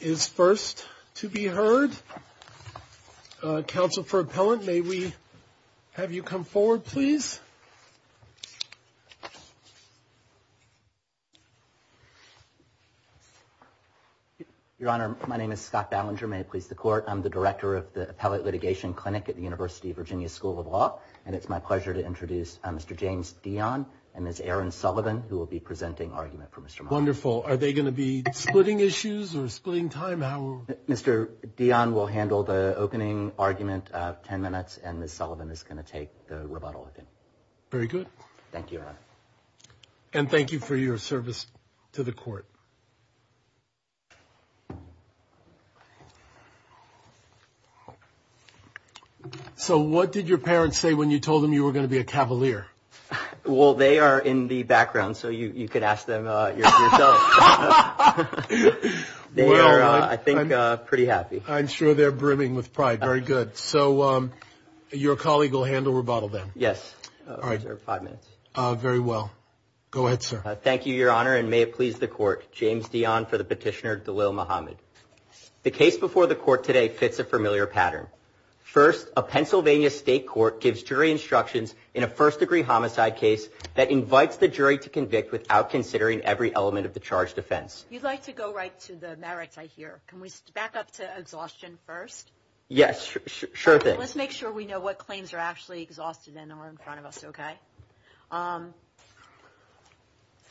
is first to be heard. Council for Appellant. May we have you come forward, please? Your Honor, my name is Scott Ballinger. May it please the court. I'm the director of the Appellate Litigation Clinic at the University of Virginia School of Law, and it's my pleasure to introduce Mr. James Dion and Ms. Erin Sullivan, who will be presenting argument for Mr. Martin. Wonderful. Are they going to be splitting issues or splitting time? Mr. Dion will handle the opening argument of 10 minutes and Ms. Sullivan is going to take the rebuttal. Very good. Thank you. And thank you for your service to the court. So what did your parents say when you told them you were going to be a Cavalier? Well, they are in the background. So you could ask them yourself. They are, I think, pretty happy. I'm sure they're brimming with pride. Very good. So your colleague will handle rebuttal then. Yes. All right. Five minutes. Very well. Go ahead, sir. Thank you, Your Honor, and may it please the court. James Dion for the petitioner Dalil Mohammed. The case before the court today fits a familiar pattern. First, a Pennsylvania state court gives jury instructions in a first degree homicide case that invites the defendant to speak without considering every element of the charge defense. You'd like to go right to the merits I hear. Can we back up to exhaustion first? Yes. Sure thing. Let's make sure we know what claims are actually exhausted and are in front of us. OK.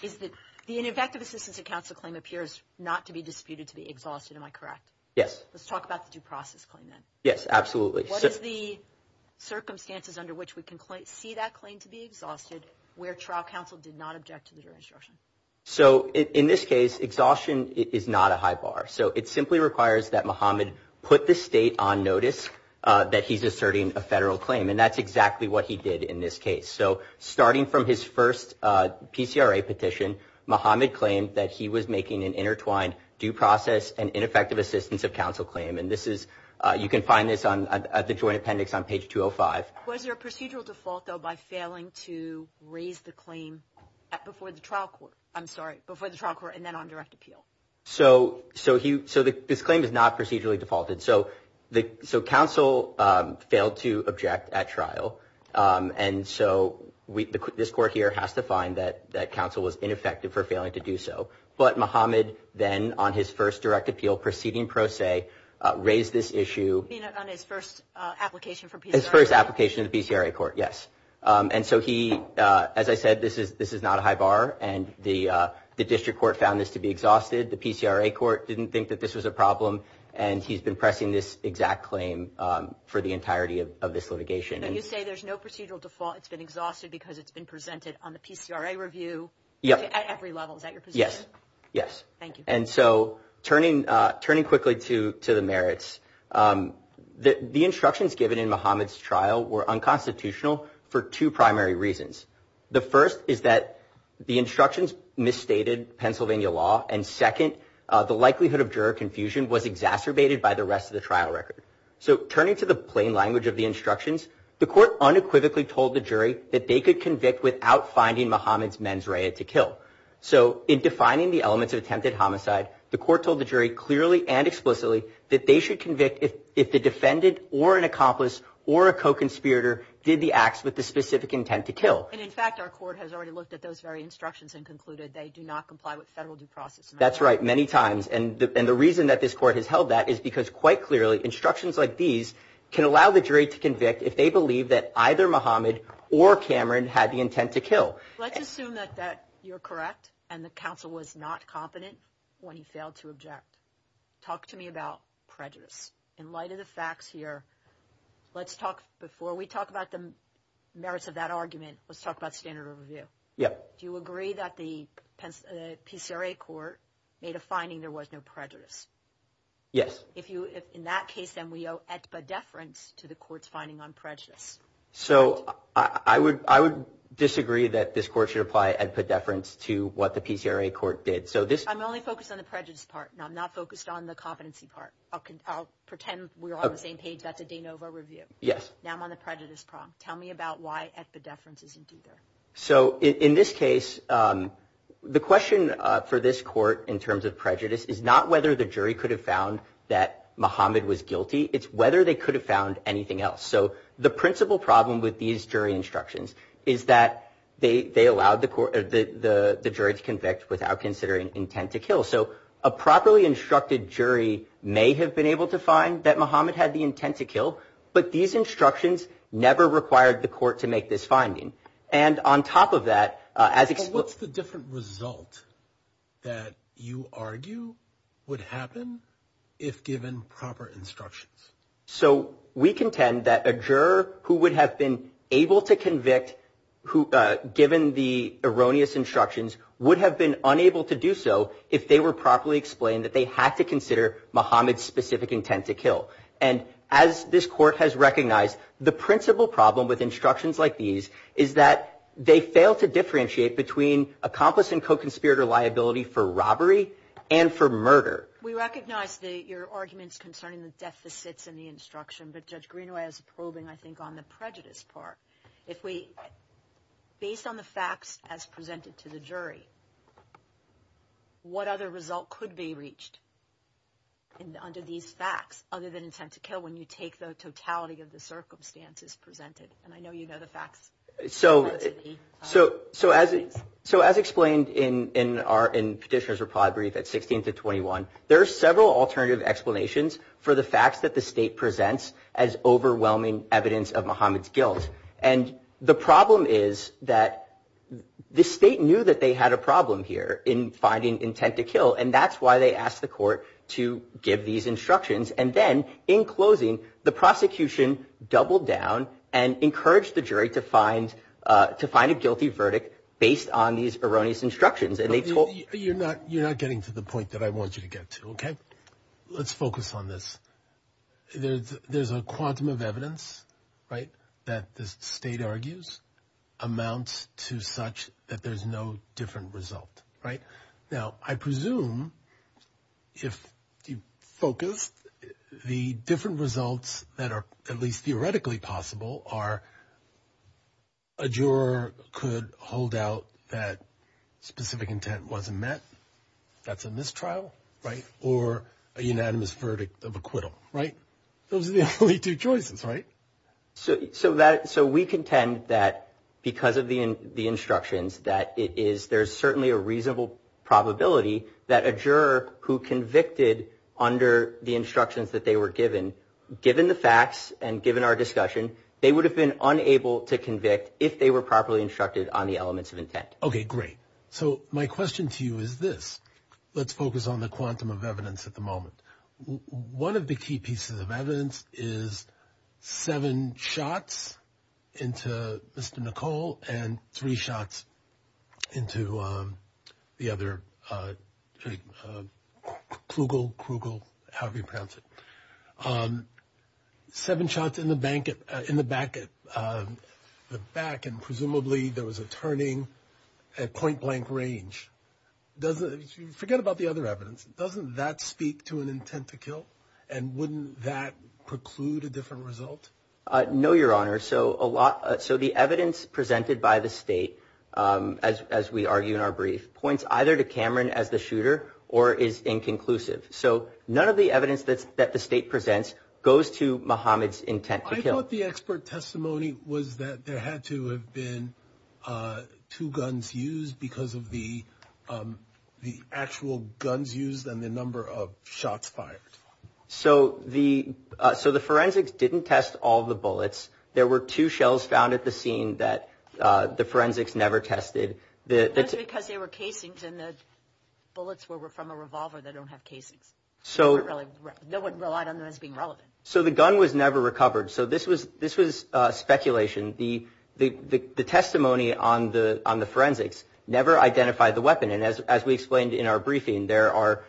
Is that the ineffective assistance of counsel claim appears not to be disputed to be exhausted? Am I correct? Yes. Let's talk about the due process claim. Yes, absolutely. What is the circumstances under which we can see that claim to be So in this case, exhaustion is not a high bar. So it simply requires that Mohammed put the state on notice that he's asserting a federal claim. And that's exactly what he did in this case. So starting from his first PCRA petition, Mohammed claimed that he was making an intertwined due process and ineffective assistance of counsel claim. And this is you can find this on the joint appendix on page 205. Was there a procedural default, though, by failing to raise the claim before the trial court? I'm sorry, before the trial court and then on direct appeal. So this claim is not procedurally defaulted. So counsel failed to object at trial. And so this court here has to find that counsel was ineffective for failing to do so. But Mohammed then on his first direct appeal proceeding pro se raised this issue on his first application for his first application to the PCRA court. Yes. And so he, as I said, this is this is not a high bar. And the the district court found this to be exhausted. The PCRA court didn't think that this was a problem. And he's been pressing this exact claim for the entirety of this litigation. And you say there's no procedural default. It's been exhausted because it's been presented on the PCRA review. Yep. At every level. Is that your position? Yes. Thank you. And so turning, turning quickly to to the merits that the instructions given in Mohammed's trial were unconstitutional for two primary reasons. The first is that the instructions misstated Pennsylvania law. And second, the likelihood of juror confusion was exacerbated by the rest of the trial record. So turning to the plain language of the instructions, the court unequivocally told the jury that they could convict without finding Mohammed's mens rea to kill. So in defining the elements of attempted homicide, the court told the jury clearly and explicitly that they should convict if if the defendant or an accomplice or a co conspirator did the acts with specific intent to kill. And in fact, our court has already looked at those very instructions and concluded they do not comply with federal due process. That's right, many times. And the reason that this court has held that is because quite clearly instructions like these can allow the jury to convict if they believe that either Mohammed or Cameron had the intent to kill. Let's assume that that you're correct. And the counsel was not competent. When he failed to object. Talk to me about prejudice. In light of the facts here. Let's talk before we talk about the merits of that argument. Let's talk about standard of review. Yeah. Do you agree that the PCRA court made a finding there was no prejudice? Yes. If you if in that case, then we owe at a deference to the court's finding on prejudice. So I would I would disagree that this court should apply and put deference to what the PCRA court did. So this I'm only focused on the prejudice part and I'm not focused on the competency part. I'll pretend we're on the same page. That's now I'm on the prejudice problem. Tell me about why at the deference isn't either. So in this case, the question for this court in terms of prejudice is not whether the jury could have found that Mohammed was guilty. It's whether they could have found anything else. So the principal problem with these jury instructions is that they allowed the the jury to convict without considering intent to kill. So a properly instructed jury may have been able to find that Mohammed had the intent to never required the court to make this finding. And on top of that, as what's the different result that you argue would happen if given proper instructions? So we contend that a juror who would have been able to convict who given the erroneous instructions would have been unable to do so if they were properly explained that they had to consider Mohammed's specific intent to And as this court has recognized, the principal problem with instructions like these is that they fail to differentiate between accomplice and co-conspirator liability for robbery and for murder. We recognize the your arguments concerning the deficits in the instruction. But Judge Greenway has a probing, I think, on the prejudice part. If we based on the facts as presented to the jury, what other result could be an intent to kill when you take the totality of the circumstances presented? And I know you know, the facts. So, so, so as, so as explained in our in Petitioner's reply brief at 16 to 21, there are several alternative explanations for the facts that the state presents as overwhelming evidence of Mohammed's guilt. And the problem is that the state knew that they had a problem here in finding intent to kill. And that's why they asked the court to give these instructions. And then in closing, the prosecution doubled down and encouraged the jury to find to find a guilty verdict based on these erroneous instructions. And they told you're not, you're not getting to the point that I want you to get to. Okay, let's focus on this. There's, there's a quantum of evidence, right, that the state argues amounts to such that there's no different result, right? Now, I presume, if you focus, the different results that are at least theoretically possible are a juror could hold out that specific intent wasn't met. That's a mistrial, right? Or a unanimous verdict of acquittal, right? Those are the only two choices, right? So, so that so we contend that because of the the instructions that it is there's certainly a reasonable probability that a juror who convicted under the instructions that they were given, given the facts and given our discussion, they would have been unable to convict if they were properly instructed on the elements of intent. Okay, great. So my question to you is this, let's focus on the quantum of evidence at the moment. One of the key pieces of into the other Klugel, Krugel, however you pronounce it, seven shots in the bank in the back, the back and presumably there was a turning at point blank range. Doesn't forget about the other evidence, doesn't that speak to an intent to kill? And wouldn't that preclude a different result? No, Your Honor. So a lot. So the evidence presented by the state as as we argue in our brief points either to Cameron as the shooter or is inconclusive. So none of the evidence that's that the state presents goes to Mohammed's intent to kill the expert testimony was that there had to have been two guns used because of the the actual guns used and the number of shots fired. So the so the forensics didn't test all the bullets. There were two shells found at the scene that the forensics never tested the because they were casings and the bullets were from a revolver. They don't have casings. So no one relied on them as being relevant. So the gun was never recovered. So this was this was speculation. The the testimony on the on the forensics never identified the weapon. And as we explained in our briefing, there are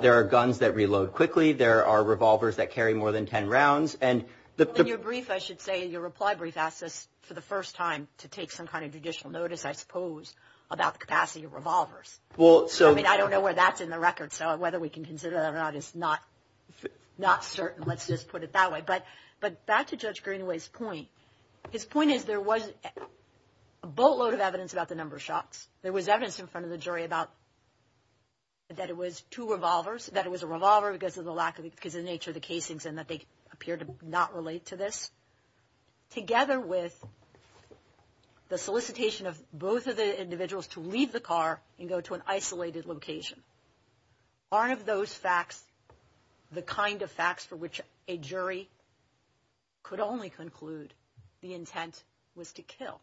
there are guns that reload quickly. There are revolvers that carry more than 10 rounds. And your brief, I should say your reply brief asked us for the first time to take some kind of judicial notice, I suppose, about the capacity of revolvers. Well, so I mean, I don't know where that's in the record. So whether we can consider that is not not certain. Let's just put it that way. But but back to Judge Greenway's point, his point is there was a boatload of evidence about the number of shots. There was evidence in front of the jury about that it was two revolvers that it was a revolver because of the lack of because of the nature of the gun. And the fact that the jury did not relate to this together with the solicitation of both of the individuals to leave the car and go to an isolated location. Aren't those facts the kind of facts for which a jury could only conclude the intent was to kill?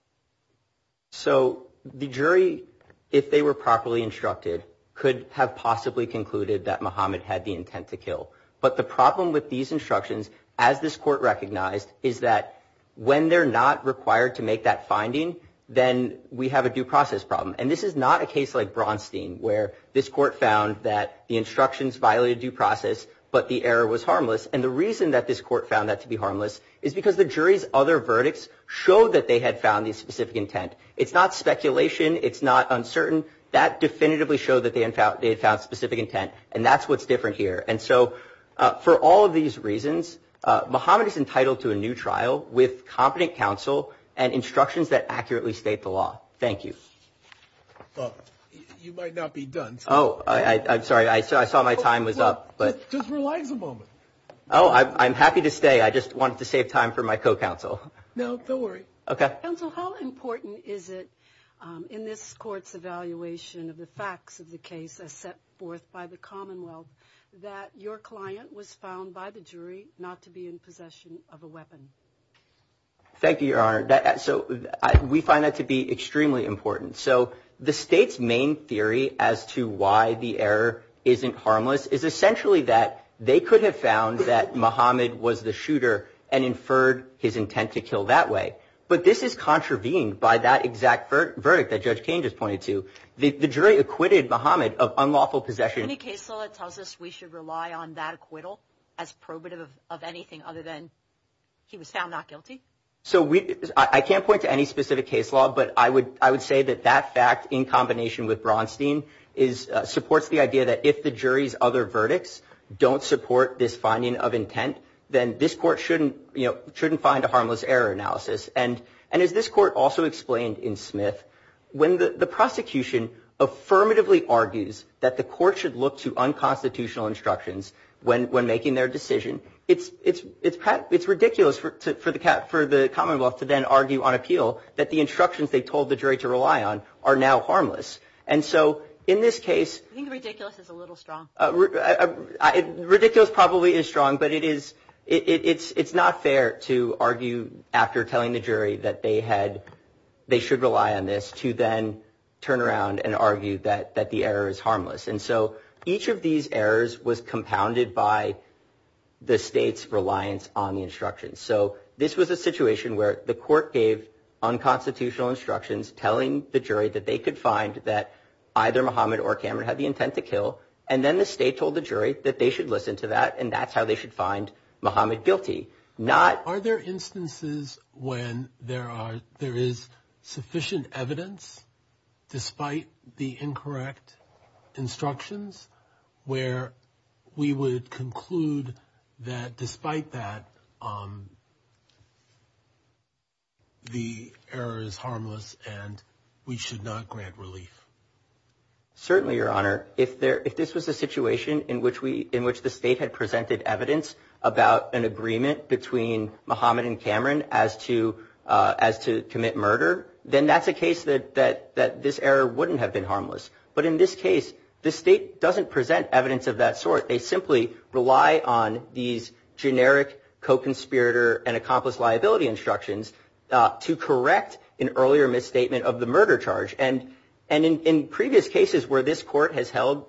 So the jury, if they were properly instructed, could have possibly concluded that Mohammed had the intent to kill. But the problem with these instructions, as this court recognized, is that when they're not required to make that finding, then we have a due process problem. And this is not a case like Braunstein, where this court found that the instructions violated due process, but the error was harmless. And the reason that this court found that to be harmless is because the jury's other verdicts show that they had found the specific intent. It's not speculation. It's not specific intent. And that's what's different here. And so for all of these reasons, Mohammed is entitled to a new trial with competent counsel and instructions that accurately state the law. Thank you. You might not be done. Oh, I'm sorry. I saw my time was up. But just relax a moment. Oh, I'm happy to stay. I just wanted to save time for my co-counsel. No, don't worry. Okay. Counsel, how important is it in this court's evaluation of the forth by the Commonwealth that your client was found by the jury not to be in possession of a weapon? Thank you, Your Honor. So we find that to be extremely important. So the state's main theory as to why the error isn't harmless is essentially that they could have found that Mohammed was the shooter and inferred his intent to kill that way. But this is contravened by that exact verdict that Judge Kane just pointed to. The jury acquitted Mohammed of unlawful possession. Any case law tells us we should rely on that acquittal as probative of anything other than he was found not guilty. So I can't point to any specific case law, but I would I would say that that fact, in combination with Bronstein, is supports the idea that if the jury's other verdicts don't support this finding of intent, then this court shouldn't shouldn't find a harmless error analysis. And and as this court also explained in Smith, when the court should look to unconstitutional instructions when when making their decision, it's it's it's it's ridiculous for for the for the Commonwealth to then argue on appeal that the instructions they told the jury to rely on are now harmless. And so in this case, I think ridiculous is a little strong. Ridiculous probably is strong, but it is it's it's not fair to argue after telling the jury that they had they should rely on this to then turn around and argue that that the error is harmless. And so each of these errors was compounded by the state's reliance on the instructions. So this was a situation where the court gave unconstitutional instructions telling the jury that they could find that either Mohammed or Cameron had the intent to kill. And then the state told the jury that they should listen to that. And that's how they should find Mohammed guilty, not are there instances when there are there is sufficient evidence, despite the incorrect instructions, where we would conclude that despite that the error is harmless, and we should not grant relief. Certainly, Your Honor, if there if this was a situation in which we in which the state had presented evidence about an agreement between Mohammed and Cameron as to as to commit murder, then that's a case that that that this error wouldn't have been harmless. But in this case, the state doesn't present evidence of that sort, they simply rely on these generic co conspirator and accomplice liability instructions to correct an earlier misstatement of the murder charge. And, and in previous cases where this court has held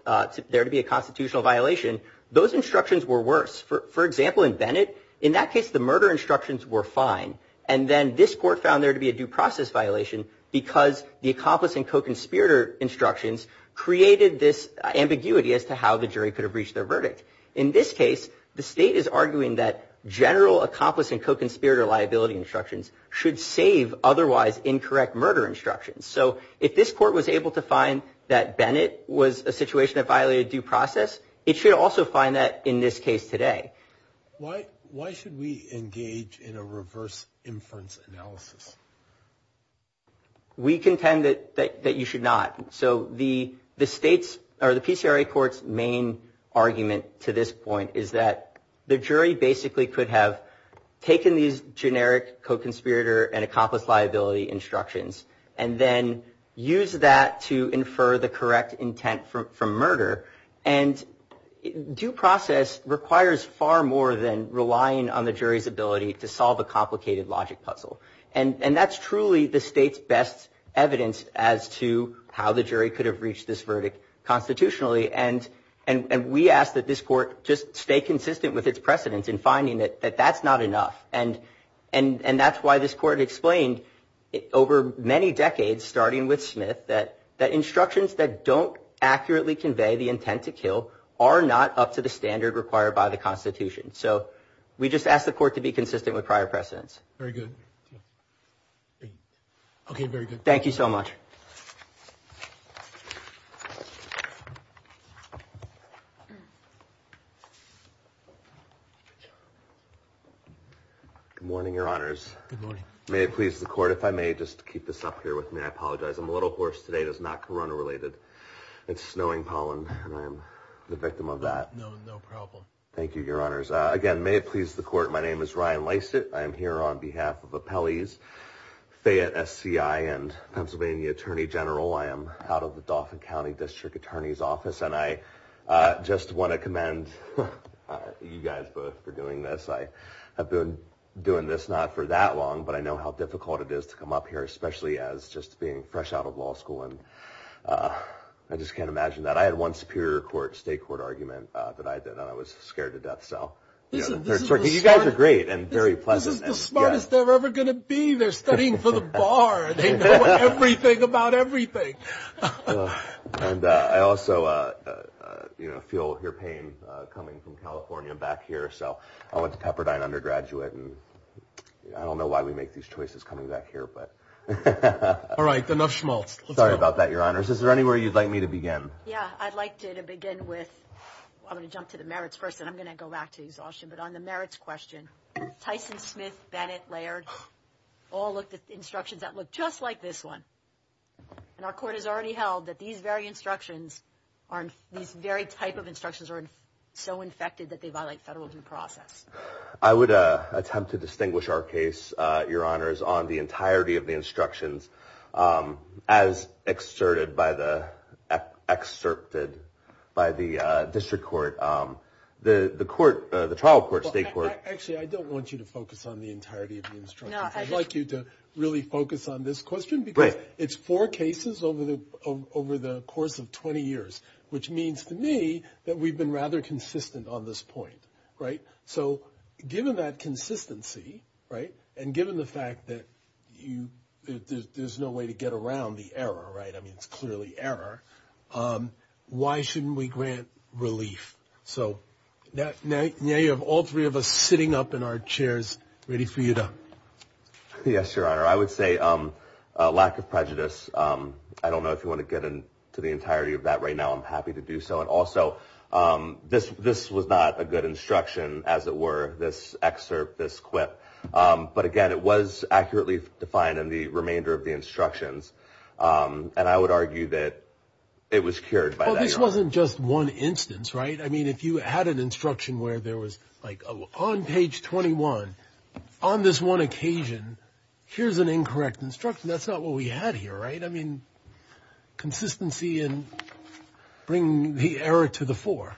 there to be a constitutional violation, those instructions were worse, for example, in Bennett, in that case, the murder instructions were fine. And then this court found there to be a due process violation, because the accomplice and co conspirator instructions created this ambiguity as to how the jury could have reached their verdict. In this case, the state is arguing that general accomplice and co conspirator liability instructions should save otherwise incorrect murder instructions. So if this court was able to find that Bennett was a situation that violated due process, it should also find that in this case today, why, why should we engage in a reverse inference analysis? We contend that that you should not. So the the states are the PCRA courts main argument to this point is that the jury basically could have taken these generic co conspirator and accomplice liability instructions, and then use that to infer the correct intent for murder. And due process requires far more than relying on the jury's ability to solve a complicated logic puzzle. And and that's truly the state's best evidence as to how the jury could have reached this verdict constitutionally. And, and we asked that this court just stay consistent with its precedents and finding that that that's not enough. And, and and that's why this court explained it over many decades, starting with Smith, that that instructions that don't accurately convey the intent to kill are not up to the standard required by the Constitution. So we just asked the court to be consistent with prior precedents. Very good. Okay, very good. Thank you so much. Good morning, your honors. May it please the court if I may just keep this up here with me. I apologize. I'm a little horse today does not Corona related. It's snowing pollen, and I'm the Thank you, your honors. Again, may it please the court. My name is Ryan Lysett. I am here on behalf of a Pelley's Fayette SCI and Pennsylvania Attorney General. I am out of the Dauphin County District Attorney's Office. And I just want to commend you guys both for doing this. I have been doing this not for that long, but I know how difficult it is to come up here, especially as just being fresh out of law school. And I just can't imagine that I had one Superior Court state court argument that I did. And I was scared to death. So you guys are great and very pleasant smartest ever going to be there studying for the bar. Everything about everything. And I also feel your pain coming from California back here. So I went to Pepperdine undergraduate and I don't know why we make these choices coming back here. But all right, enough schmaltz. Sorry about that, your honors. Is there anywhere you'd like me to begin? Yeah, I'd like you to begin with. I'm going to jump to the merits person. I'm going to go back to exhaustion, but on the merits question, Tyson Smith, Bennett, Laird all looked at instructions that look just like this one. And our court has already held that these very instructions aren't these very type of instructions are so infected that they violate federal due process. I would attempt to distinguish our case, your honors, on the entirety of the instructions, um, as exerted by the district court, the trial court, state court. Actually, I don't want you to focus on the entirety of the instructions. I'd like you to really focus on this question, because it's four cases over the course of 20 years, which means to me that we've been rather consistent on this point. Right. So given that consistency, right, and given the fact that there's no way to err, um, why shouldn't we grant relief? So now you have all three of us sitting up in our chairs, ready for you to. Yes, your honor. I would say, um, lack of prejudice. Um, I don't know if you want to get into the entirety of that right now. I'm happy to do so. And also, um, this, this was not a good instruction as it were this excerpt, this quip. Um, but again, it was accurately defined in the remainder of the it was cured by this wasn't just one instance, right? I mean, if you had an instruction where there was like on page 21 on this one occasion, here's an incorrect instruction. That's not what we had here, right? I mean, consistency and bring the error to the four.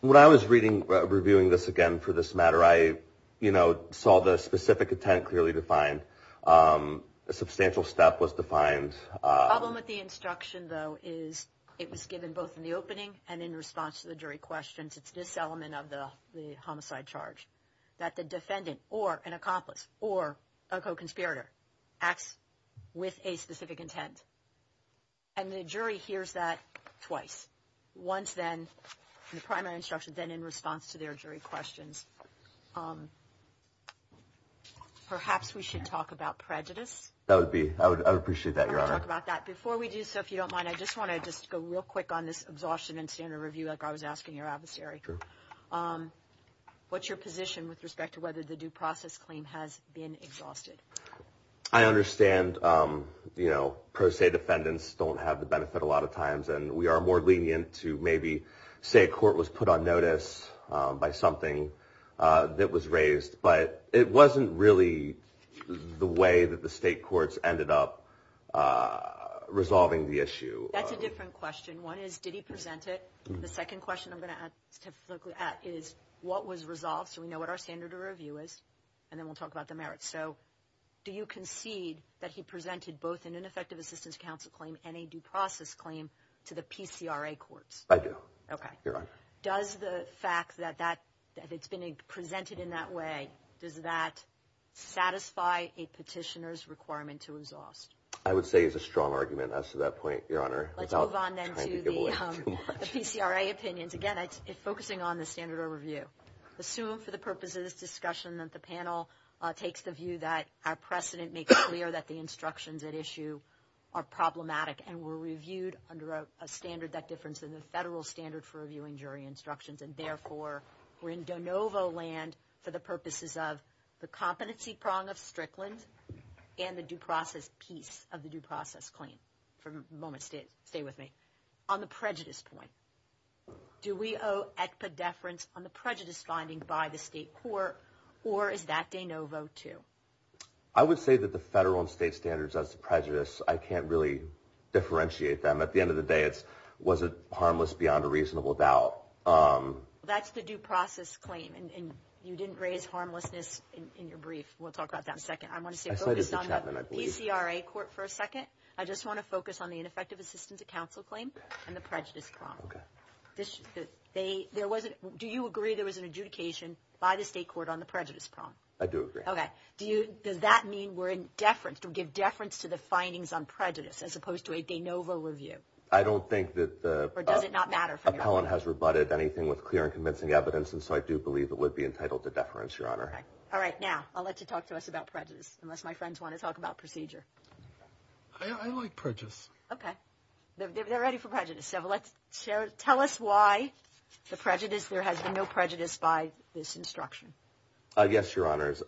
When I was reading, reviewing this again for this matter, I, you know, saw the specific intent clearly defined. Um, a substantial step was defined. Problem with the is it was given both in the opening and in response to the jury questions. It's this element of the homicide charge that the defendant or an accomplice or a co conspirator acts with a specific intent. And the jury hears that twice. Once then, the primary instruction, then in response to their jury questions. Um, perhaps we should talk about prejudice. That would be, I would appreciate that. You're gonna talk about that before we do. So if you don't mind, I just want to just go real quick on this exhaustion and standard review. Like I was asking your adversary, um, what's your position with respect to whether the due process claim has been exhausted? I understand. Um, you know, pro se defendants don't have the benefit a lot of times. And we are more lenient to maybe say a court was put on notice by something that was raised, but it wasn't really the way that the state courts ended up, uh, resolving the issue. That's a different question. One is, did he present it? The second question I'm going to ask is what was resolved. So we know what our standard of review is, and then we'll talk about the merits. So do you concede that he presented both an ineffective assistance counsel claim and a due process claim to the PCRA courts? I do. Okay. Does the fact that that it's been presented in that way, does that satisfy a petitioner's requirement to exhaust? I would say is a strong argument as to that point, Your Honor. Let's move on then to the PCRA opinions. Again, it's focusing on the standard of review. Assume for the purpose of this discussion that the panel takes the view that our precedent makes clear that the instructions at issue are problematic and were reviewed under a standard, that difference in the federal standard for reviewing jury instructions, and therefore we're in de novo land for the purposes of the competency prong of Strickland and the due process piece of the due process claim. For a moment, stay with me. On the prejudice point, do we owe expedeference on the prejudice finding by the state court or is that de novo too? I would say that the federal and state standards as to prejudice, I can't really differentiate them. At the end of the day, was it harmless beyond a reasonable doubt? That's the due process claim and you didn't raise harmlessness in your brief. We'll talk about that in a second. I want to stay focused on the PCRA court for a second. I just want to focus on the ineffective assistance of counsel claim and the prejudice prong. Do you agree there was an adjudication by the state court on the prejudice prong? I do agree. Okay. Does that mean we're in deference to give deference to the findings on prejudice as well? I don't think that the appellant has rebutted anything with clear and convincing evidence and so I do believe it would be entitled to deference, Your Honor. All right. Now, I'll let you talk to us about prejudice unless my friends want to talk about procedure. I like prejudice. Okay. They're ready for prejudice. Tell us why the prejudice, there has been no prejudice by this instruction. Yes, Your Honors.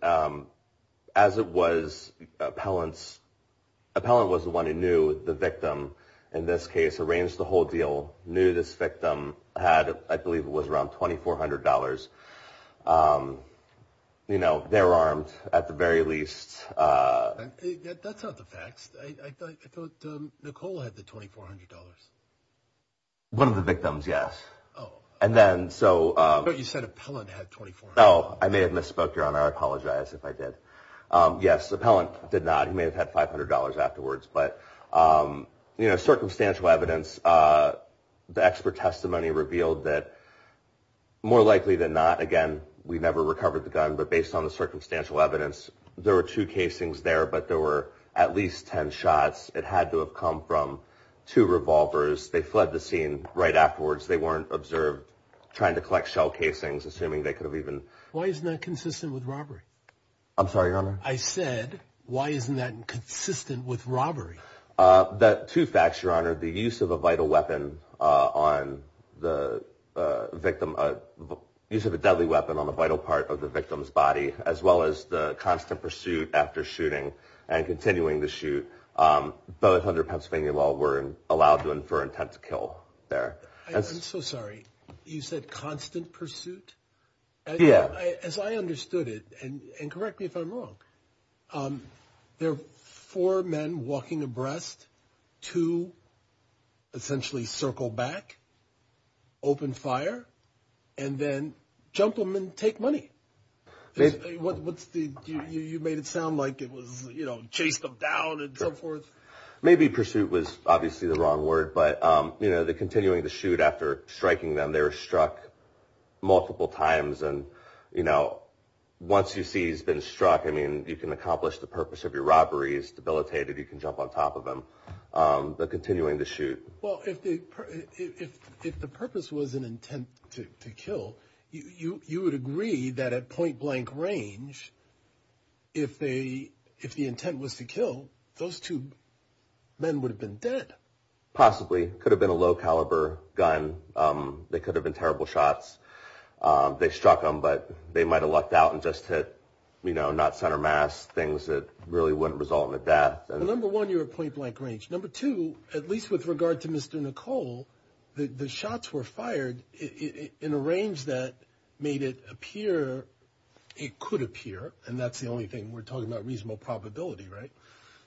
Appellant was the one who knew the victim. In this case, arranged the whole deal, knew this victim, had, I believe it was around $2,400. You know, they're armed at the very least. That's not the facts. I thought Nicole had the $2,400. One of the victims, yes. Oh. And then, so. You said appellant had $2,400. Oh, I may have misspoke, Your Honor. I apologize if I did. Yes, appellant did not. He may have had $500 afterwards, but, you know, circumstantial evidence, the expert testimony revealed that more likely than not, again, we never recovered the gun, but based on the circumstantial evidence, there were two casings there, but there were at least 10 shots. It had to have come from two revolvers. They fled the scene right afterwards. They weren't observed trying to collect shell casings, assuming they could have even. Why is that Why isn't that consistent with robbery? That, two facts, Your Honor. The use of a vital weapon on the victim, use of a deadly weapon on the vital part of the victim's body, as well as the constant pursuit after shooting and continuing to shoot, both under Pennsylvania law, were allowed to infer intent to kill there. I'm so sorry. You said constant pursuit? Yeah. As I understood it, and correct me if I'm wrong, there are four men walking abreast to essentially circle back, open fire, and then jump them and take money. What's the you made it sound like it was, you know, chased them down and so forth. Maybe pursuit was obviously the wrong word. But, you know, the continuing to shoot after striking them, they were struck multiple times. And, you know, once you see he's been struck, I mean, you can accomplish the purpose of your robberies debilitated, you can jump on top of them, but continuing to shoot. Well, if the if the purpose was an intent to kill, you would agree that at point blank range, if they if the intent was to kill, those two men would have been dead. Possibly could have been a low caliber gun. They could have been terrible shots. They struck them, but they might have lucked out and just hit, you know, not center mass things that really wouldn't result in a death. And number one, you're a point blank range. Number two, at least with regard to Mr. Nicole, the shots were fired in a range that made it appear it could appear. And that's the only thing we're talking about. Reasonable probability. Right.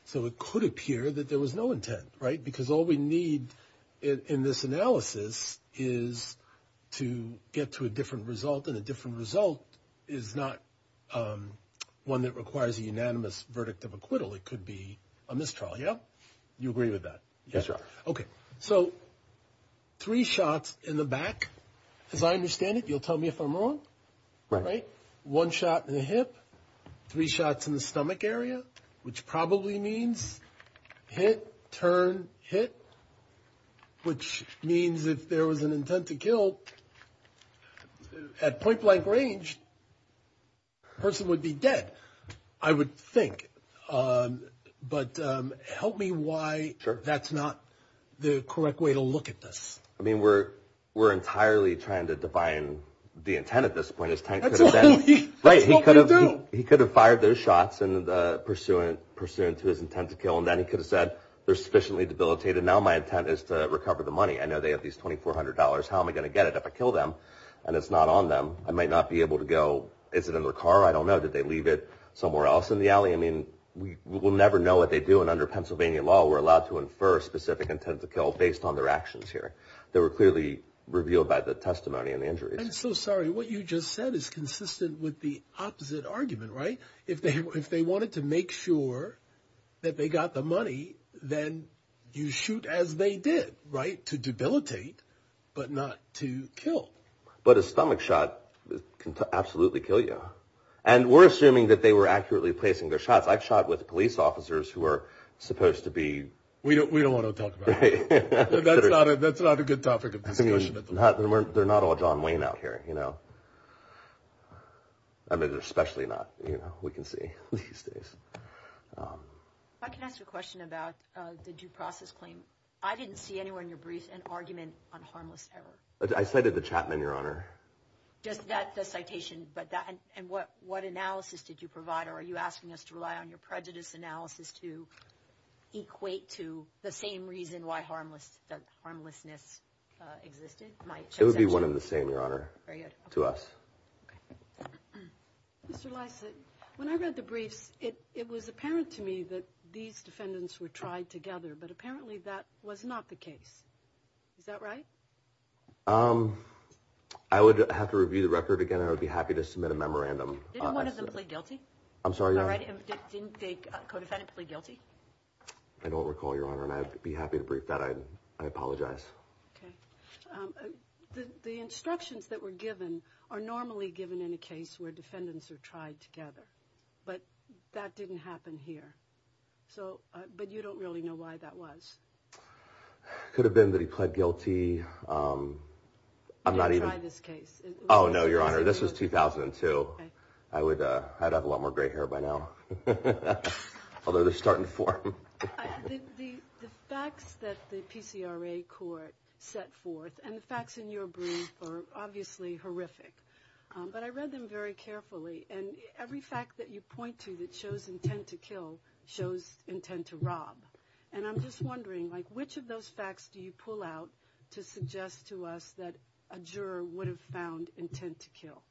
So it could appear that there was no intent. Right. Because all we need in this analysis is to get to a different result in a different result is not one that requires a unanimous verdict of acquittal. It could be a mistrial. Yeah, you agree with that? Yes. OK. So three shots in the back, as I understand it, you'll tell me if I'm wrong. Right. One shot in the hip. Three shots in the stomach area, which probably means hit, turn, hit, which means if there was an intent to kill at point blank range. Person would be dead, I would think. But help me why that's not the correct way to look at this. I mean, we're we're entirely trying to define the intent at this point. Right. He could have he could have fired those shots and the pursuant pursuant to his intent to kill. And then he could have said they're sufficiently debilitated. Now, my intent is to recover the money. I know they have these $2,400. How am I going to get it if I kill them and it's not on them? I might not be able to go. Is it in the car? I don't know. Did they leave it somewhere else in the alley? I mean, we will never know what they do. And under Pennsylvania law, we're allowed to infer specific intent to kill based on their actions here. There were clearly revealed by the testimony and the injuries. I'm so sorry. What you just said is consistent with the opposite argument, right? If they if they wanted to make sure that they got the money, then you shoot as they did. Right. To debilitate, but not to kill. But a stomach shot can absolutely kill you. And we're assuming that they were accurately placing their shots. I've shot with police officers who are supposed to be. We don't we don't want to talk. That's not a good topic of discussion. They're not all John Wayne out here, you know. I mean, especially not, you know, we can see these days. I can ask a question about the due process claim. I didn't see anywhere in your brief an argument on harmless error. I cited the Chapman, Your Honor. Just that the citation, but that and what what analysis did you provide? Or are you asking us to rely on your prejudice analysis to equate to the same reason why harmless harmlessness existed? My it would be one of the same, Your Honor. Very good to us. Mr. Lysak, when I read the briefs, it was apparent to me that these defendants were tried together. But apparently that was not the case. Is that right? I would have to review the record again. I would be happy to submit a memorandum. I'm sorry. I don't recall your honor and I'd be happy to brief that I'd I apologize. The instructions that were given are normally given in a case where defendants are tried together. But that didn't happen here. So but you don't really know why that was. Could have been that he pled guilty. I'm not even this case. Oh, no, Your Honor. This was 2002. I would, I'd have a lot more gray hair by now. Although they're starting to form the facts that the PCRA court set forth and the facts in your brief are obviously horrific. But I read them very carefully. And every fact that you point to that shows intent to kill shows intent to rob. And I'm just wondering, like, which of those facts do you pull out to suggest to us that a juror would have found intent to kill?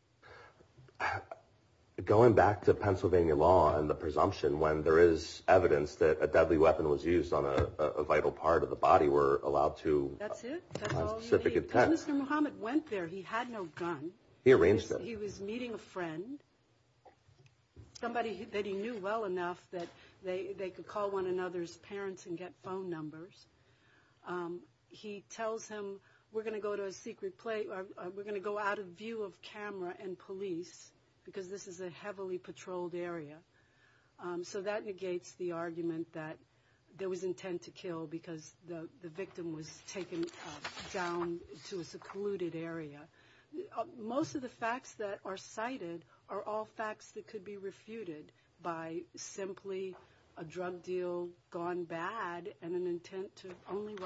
Going back to Pennsylvania law and the presumption when there is evidence that a deadly weapon was used on a vital part of the body were allowed to That's it. Mr. Muhammad went there. He had no gun. He arranged that he was well enough that they could call one another's parents and get phone numbers. He tells him, we're going to go to a secret place. We're going to go out of view of camera and police because this is a heavily patrolled area. So that negates the argument that there was intent to kill because the victim was taken down to a secluded area. Most of the simply a drug deal gone bad and an intent to only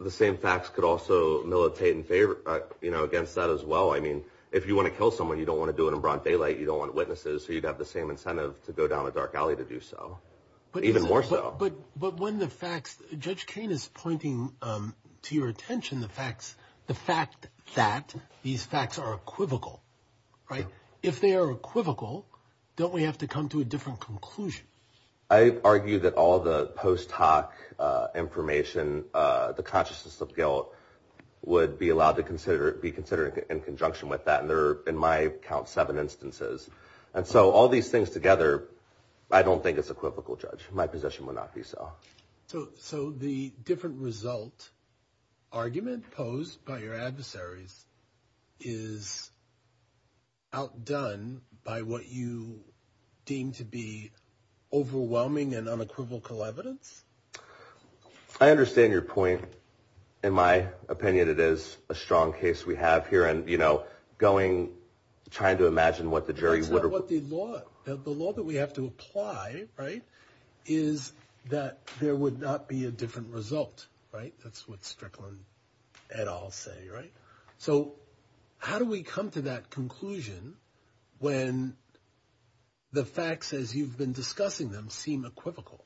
the same facts could also militate in favor, you know, against that as well. I mean, if you want to kill someone, you don't want to do it in broad daylight. You don't want witnesses. So you'd have the same incentive to go down a dark alley to do so. But even more so. But but when the facts, Judge Kane is pointing to your attention, the facts, the fact that these facts are equivocal, right? If they are equivocal, don't we have to come to a different conclusion? I argue that all the post hoc information, the consciousness of guilt would be allowed to consider it be considered in conjunction with that. And there are in my account, seven instances. And so all these things together, I don't think it's equivocal, Judge, my position would not be so. So so the different result, argument posed by your adversaries is outdone by what you deem to be overwhelming and unequivocal evidence. I understand your point. In my opinion, it is a strong case we have here. And, you know, going trying to imagine what the jury's what the law, the law that we have to apply, right, is that there would not be a different result, right? That's what Strickland et al say, right? So how do we come to that conclusion? When the facts as you've been discussing them seem equivocal?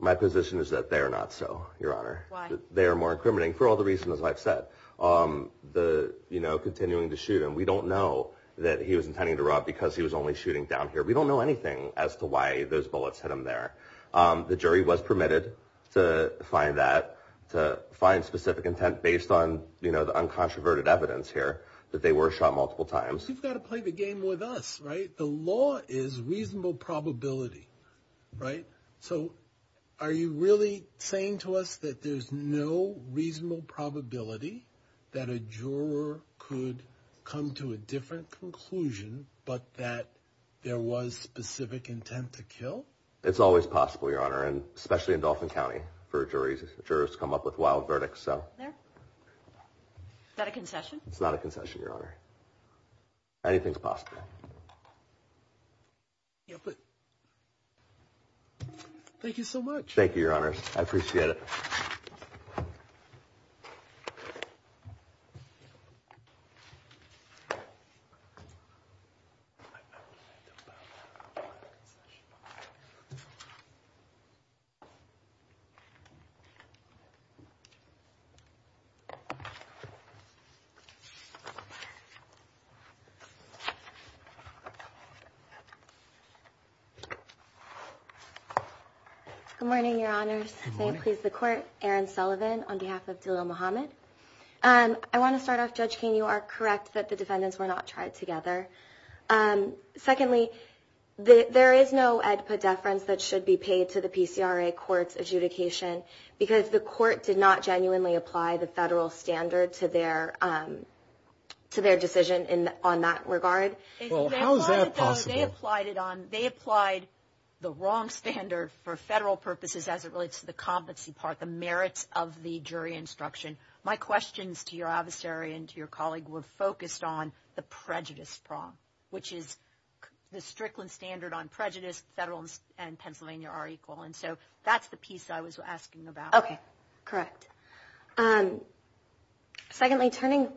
My position is that they're not so your honor, they are more incriminating for all the reasons I've said, the, you know, continuing to shoot and we don't know that he was intending to rob because he was only shooting down here. We don't know anything as to why those bullets hit him there. The jury was to find specific intent based on, you know, the uncontroverted evidence here that they were shot multiple times. You've got to play the game with us, right? The law is reasonable probability, right? So are you really saying to us that there's no reasonable probability that a juror could come to a different conclusion, but that there was specific intent to kill? It's always possible, your honor, and especially in Dauphin County for juries, jurors come up with wild verdicts. So that a concession? It's not a concession, your honor. Anything's possible. Thank you so much. Thank you, your honors. I appreciate it. Good morning, your honors. May it please the court. Aaron Sullivan, on behalf of Dhillon Muhammad. I want to start off, Judge King, you are correct that the defendants were not tried together. Secondly, there is no EDPA deference that should be because the court did not genuinely apply the federal standard to their decision on that regard. Well, how is that possible? They applied the wrong standard for federal purposes as it relates to the competency part, the merits of the jury instruction. My questions to your adversary and to your colleague were focused on the prejudice prong, which is the Strickland standard on prejudice, federal and national. Okay, correct. Secondly, turning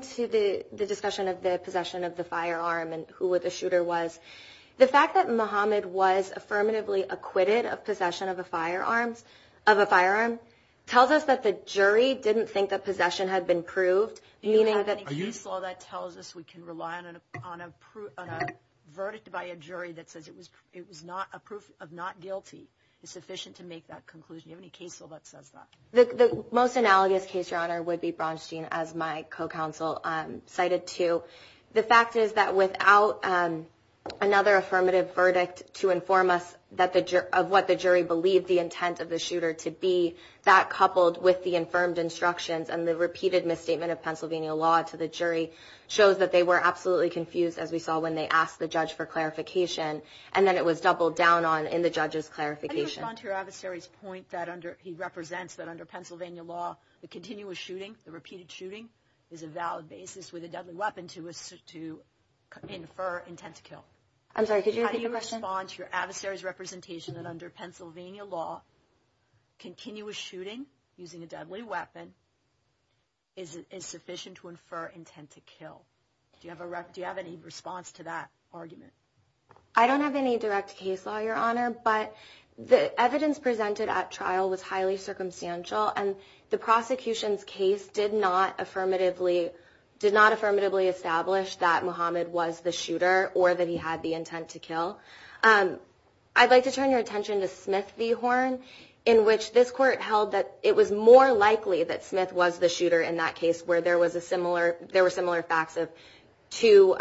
to the discussion of the possession of the firearm and who the shooter was, the fact that Muhammad was affirmatively acquitted of possession of a firearm tells us that the jury didn't think that possession had been proved, meaning that any case law that tells us we can rely on a verdict by a jury that says it was not a proof of not guilty is sufficient to make that conclusion. Do you have any case law that says that? The most analogous case, Your Honor, would be Braunstein, as my co-counsel cited to. The fact is that without another affirmative verdict to inform us of what the jury believed the intent of the shooter to be, that coupled with the infirmed instructions and the repeated misstatement of Pennsylvania law to the jury shows that they were absolutely confused, as we saw when they asked the judge for clarification, and then it was doubled down on in the judge's clarification. How do you respond to your adversary's point that under, he represents that under Pennsylvania law, the continuous shooting, the repeated shooting is a valid basis with a deadly weapon to infer intent to kill? I'm sorry, could you repeat the question? How do you respond to your adversary's representation that under Pennsylvania law, continuous shooting using a deadly weapon is sufficient to infer intent to kill? Do you have a, do you have any response to that argument? I don't have any direct case law, Your Honor, but the evidence presented at trial was highly circumstantial, and the prosecution's case did not affirmatively, did not affirmatively establish that Muhammad was the shooter or that he had the intent to kill. I'd like to turn your attention to Smith v. Horn, in which this court held that it was more likely that Smith was the shooter in that case where there was a similar, there were similar facts of two,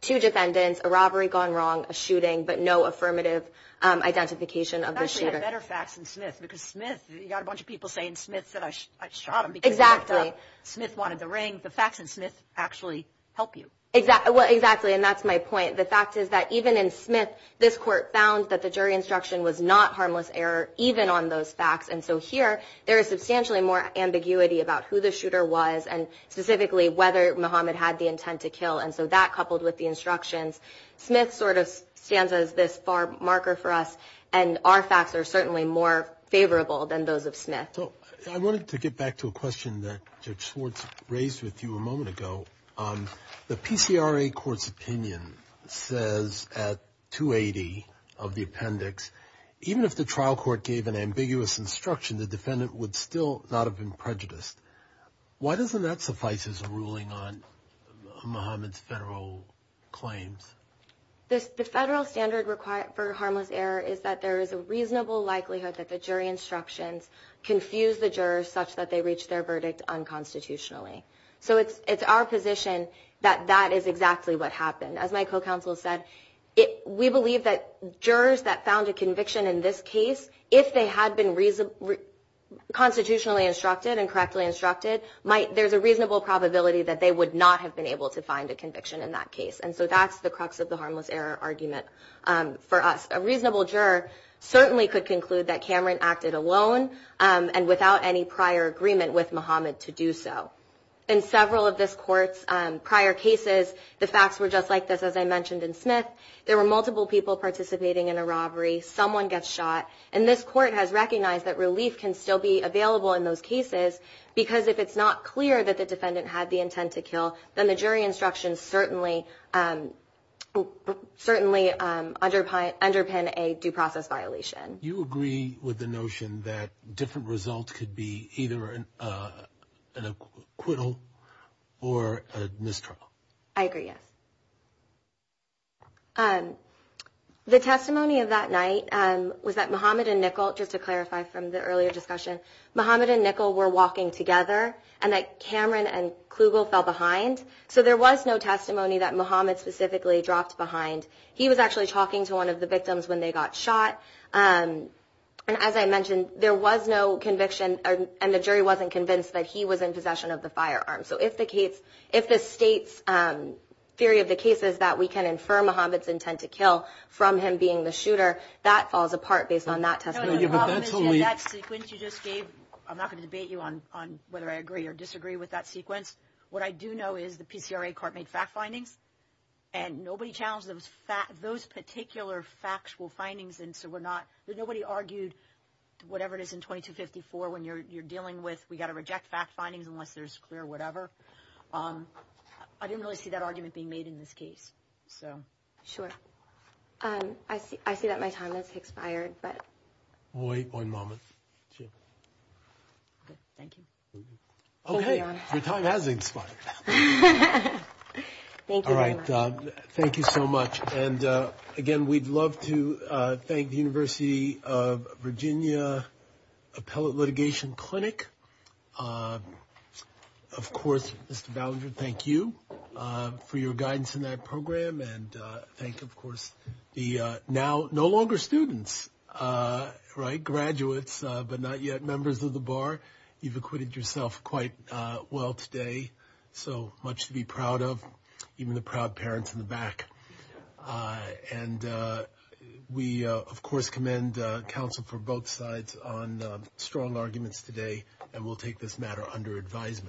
two defendants, a robbery gone wrong, a shooting, but no affirmative identification of the shooter. Actually had better facts than Smith, because Smith, you got a bunch of people saying Smith's that I shot him. Exactly. Smith wanted the ring. The facts in Smith actually help you. Exactly. Well, exactly. And that's my point. The fact is that even in Smith, this court found that the jury instruction was not harmless error, even on those facts. And so here, there is substantially more ambiguity about who the shooter was, and specifically whether Muhammad had the intent to kill. And so that coupled with the instructions, Smith sort of stands as this far marker for us. And our facts are certainly more favorable than those of Smith. So I wanted to get back to a question that Judge Swartz raised with you a moment ago. The PCRA Court's opinion says at 280 of the appendix, even if the trial court gave an ambiguous instruction, the defendant would still not have been convicted. And that suffices a ruling on Muhammad's federal claims. The federal standard required for harmless error is that there is a reasonable likelihood that the jury instructions confuse the jurors such that they reach their verdict unconstitutionally. So it's our position that that is exactly what happened. As my co-counsel said, we believe that jurors that found a conviction in this case, if they had been constitutionally instructed and the reasonable probability that they would not have been able to find a conviction in that case. And so that's the crux of the harmless error argument for us. A reasonable juror certainly could conclude that Cameron acted alone and without any prior agreement with Muhammad to do so. In several of this court's prior cases, the facts were just like this, as I mentioned in Smith. There were multiple people participating in a robbery. Someone gets shot. And this court has recognized that relief can still be available in those cases, because if it's not clear that the defendant had the intent to kill, then the jury instructions certainly underpin a due process violation. You agree with the notion that different results could be either an acquittal or a misdraft? I agree, yes. The testimony of that night was that Muhammad and Nickel, just to clarify from the earlier discussion, Muhammad and Nickel were walking together and that Cameron and Klugel fell behind. So there was no testimony that Muhammad specifically dropped behind. He was actually talking to one of the victims when they got shot. And as I mentioned, there was no conviction and the jury wasn't convinced that he was in possession of the firearm. So if the state's theory of the case is that we can infer Muhammad's intent to kill from him being the shooter, that falls apart based on that testimony. The problem is that sequence you just gave, I'm not going to debate you on whether I agree or disagree with that sequence. What I do know is the PCRA court made fact findings and nobody challenged those particular factual findings. And so we're not, nobody argued whatever it is in 2254 when you're dealing with, we got to reject fact findings unless there's clear whatever. I didn't really see that argument being made in this case. So sure. I see, I see that my time has expired, but wait one moment. Thank you. Okay. Your time has expired. Well, all right. Thank you so much. And again, we'd love to thank the University of Virginia Appellate Litigation Clinic. Of course, Mr. Ballinger, thank you for your guidance in that program. And thank you, of course, the now no longer students, right? Graduates, but not yet members of the bar. You've acquitted yourself quite well today. So much to be proud of, even the proud parents in the back. And we, of course, commend counsel for both sides on strong arguments today. And we'll take this matter under advisement.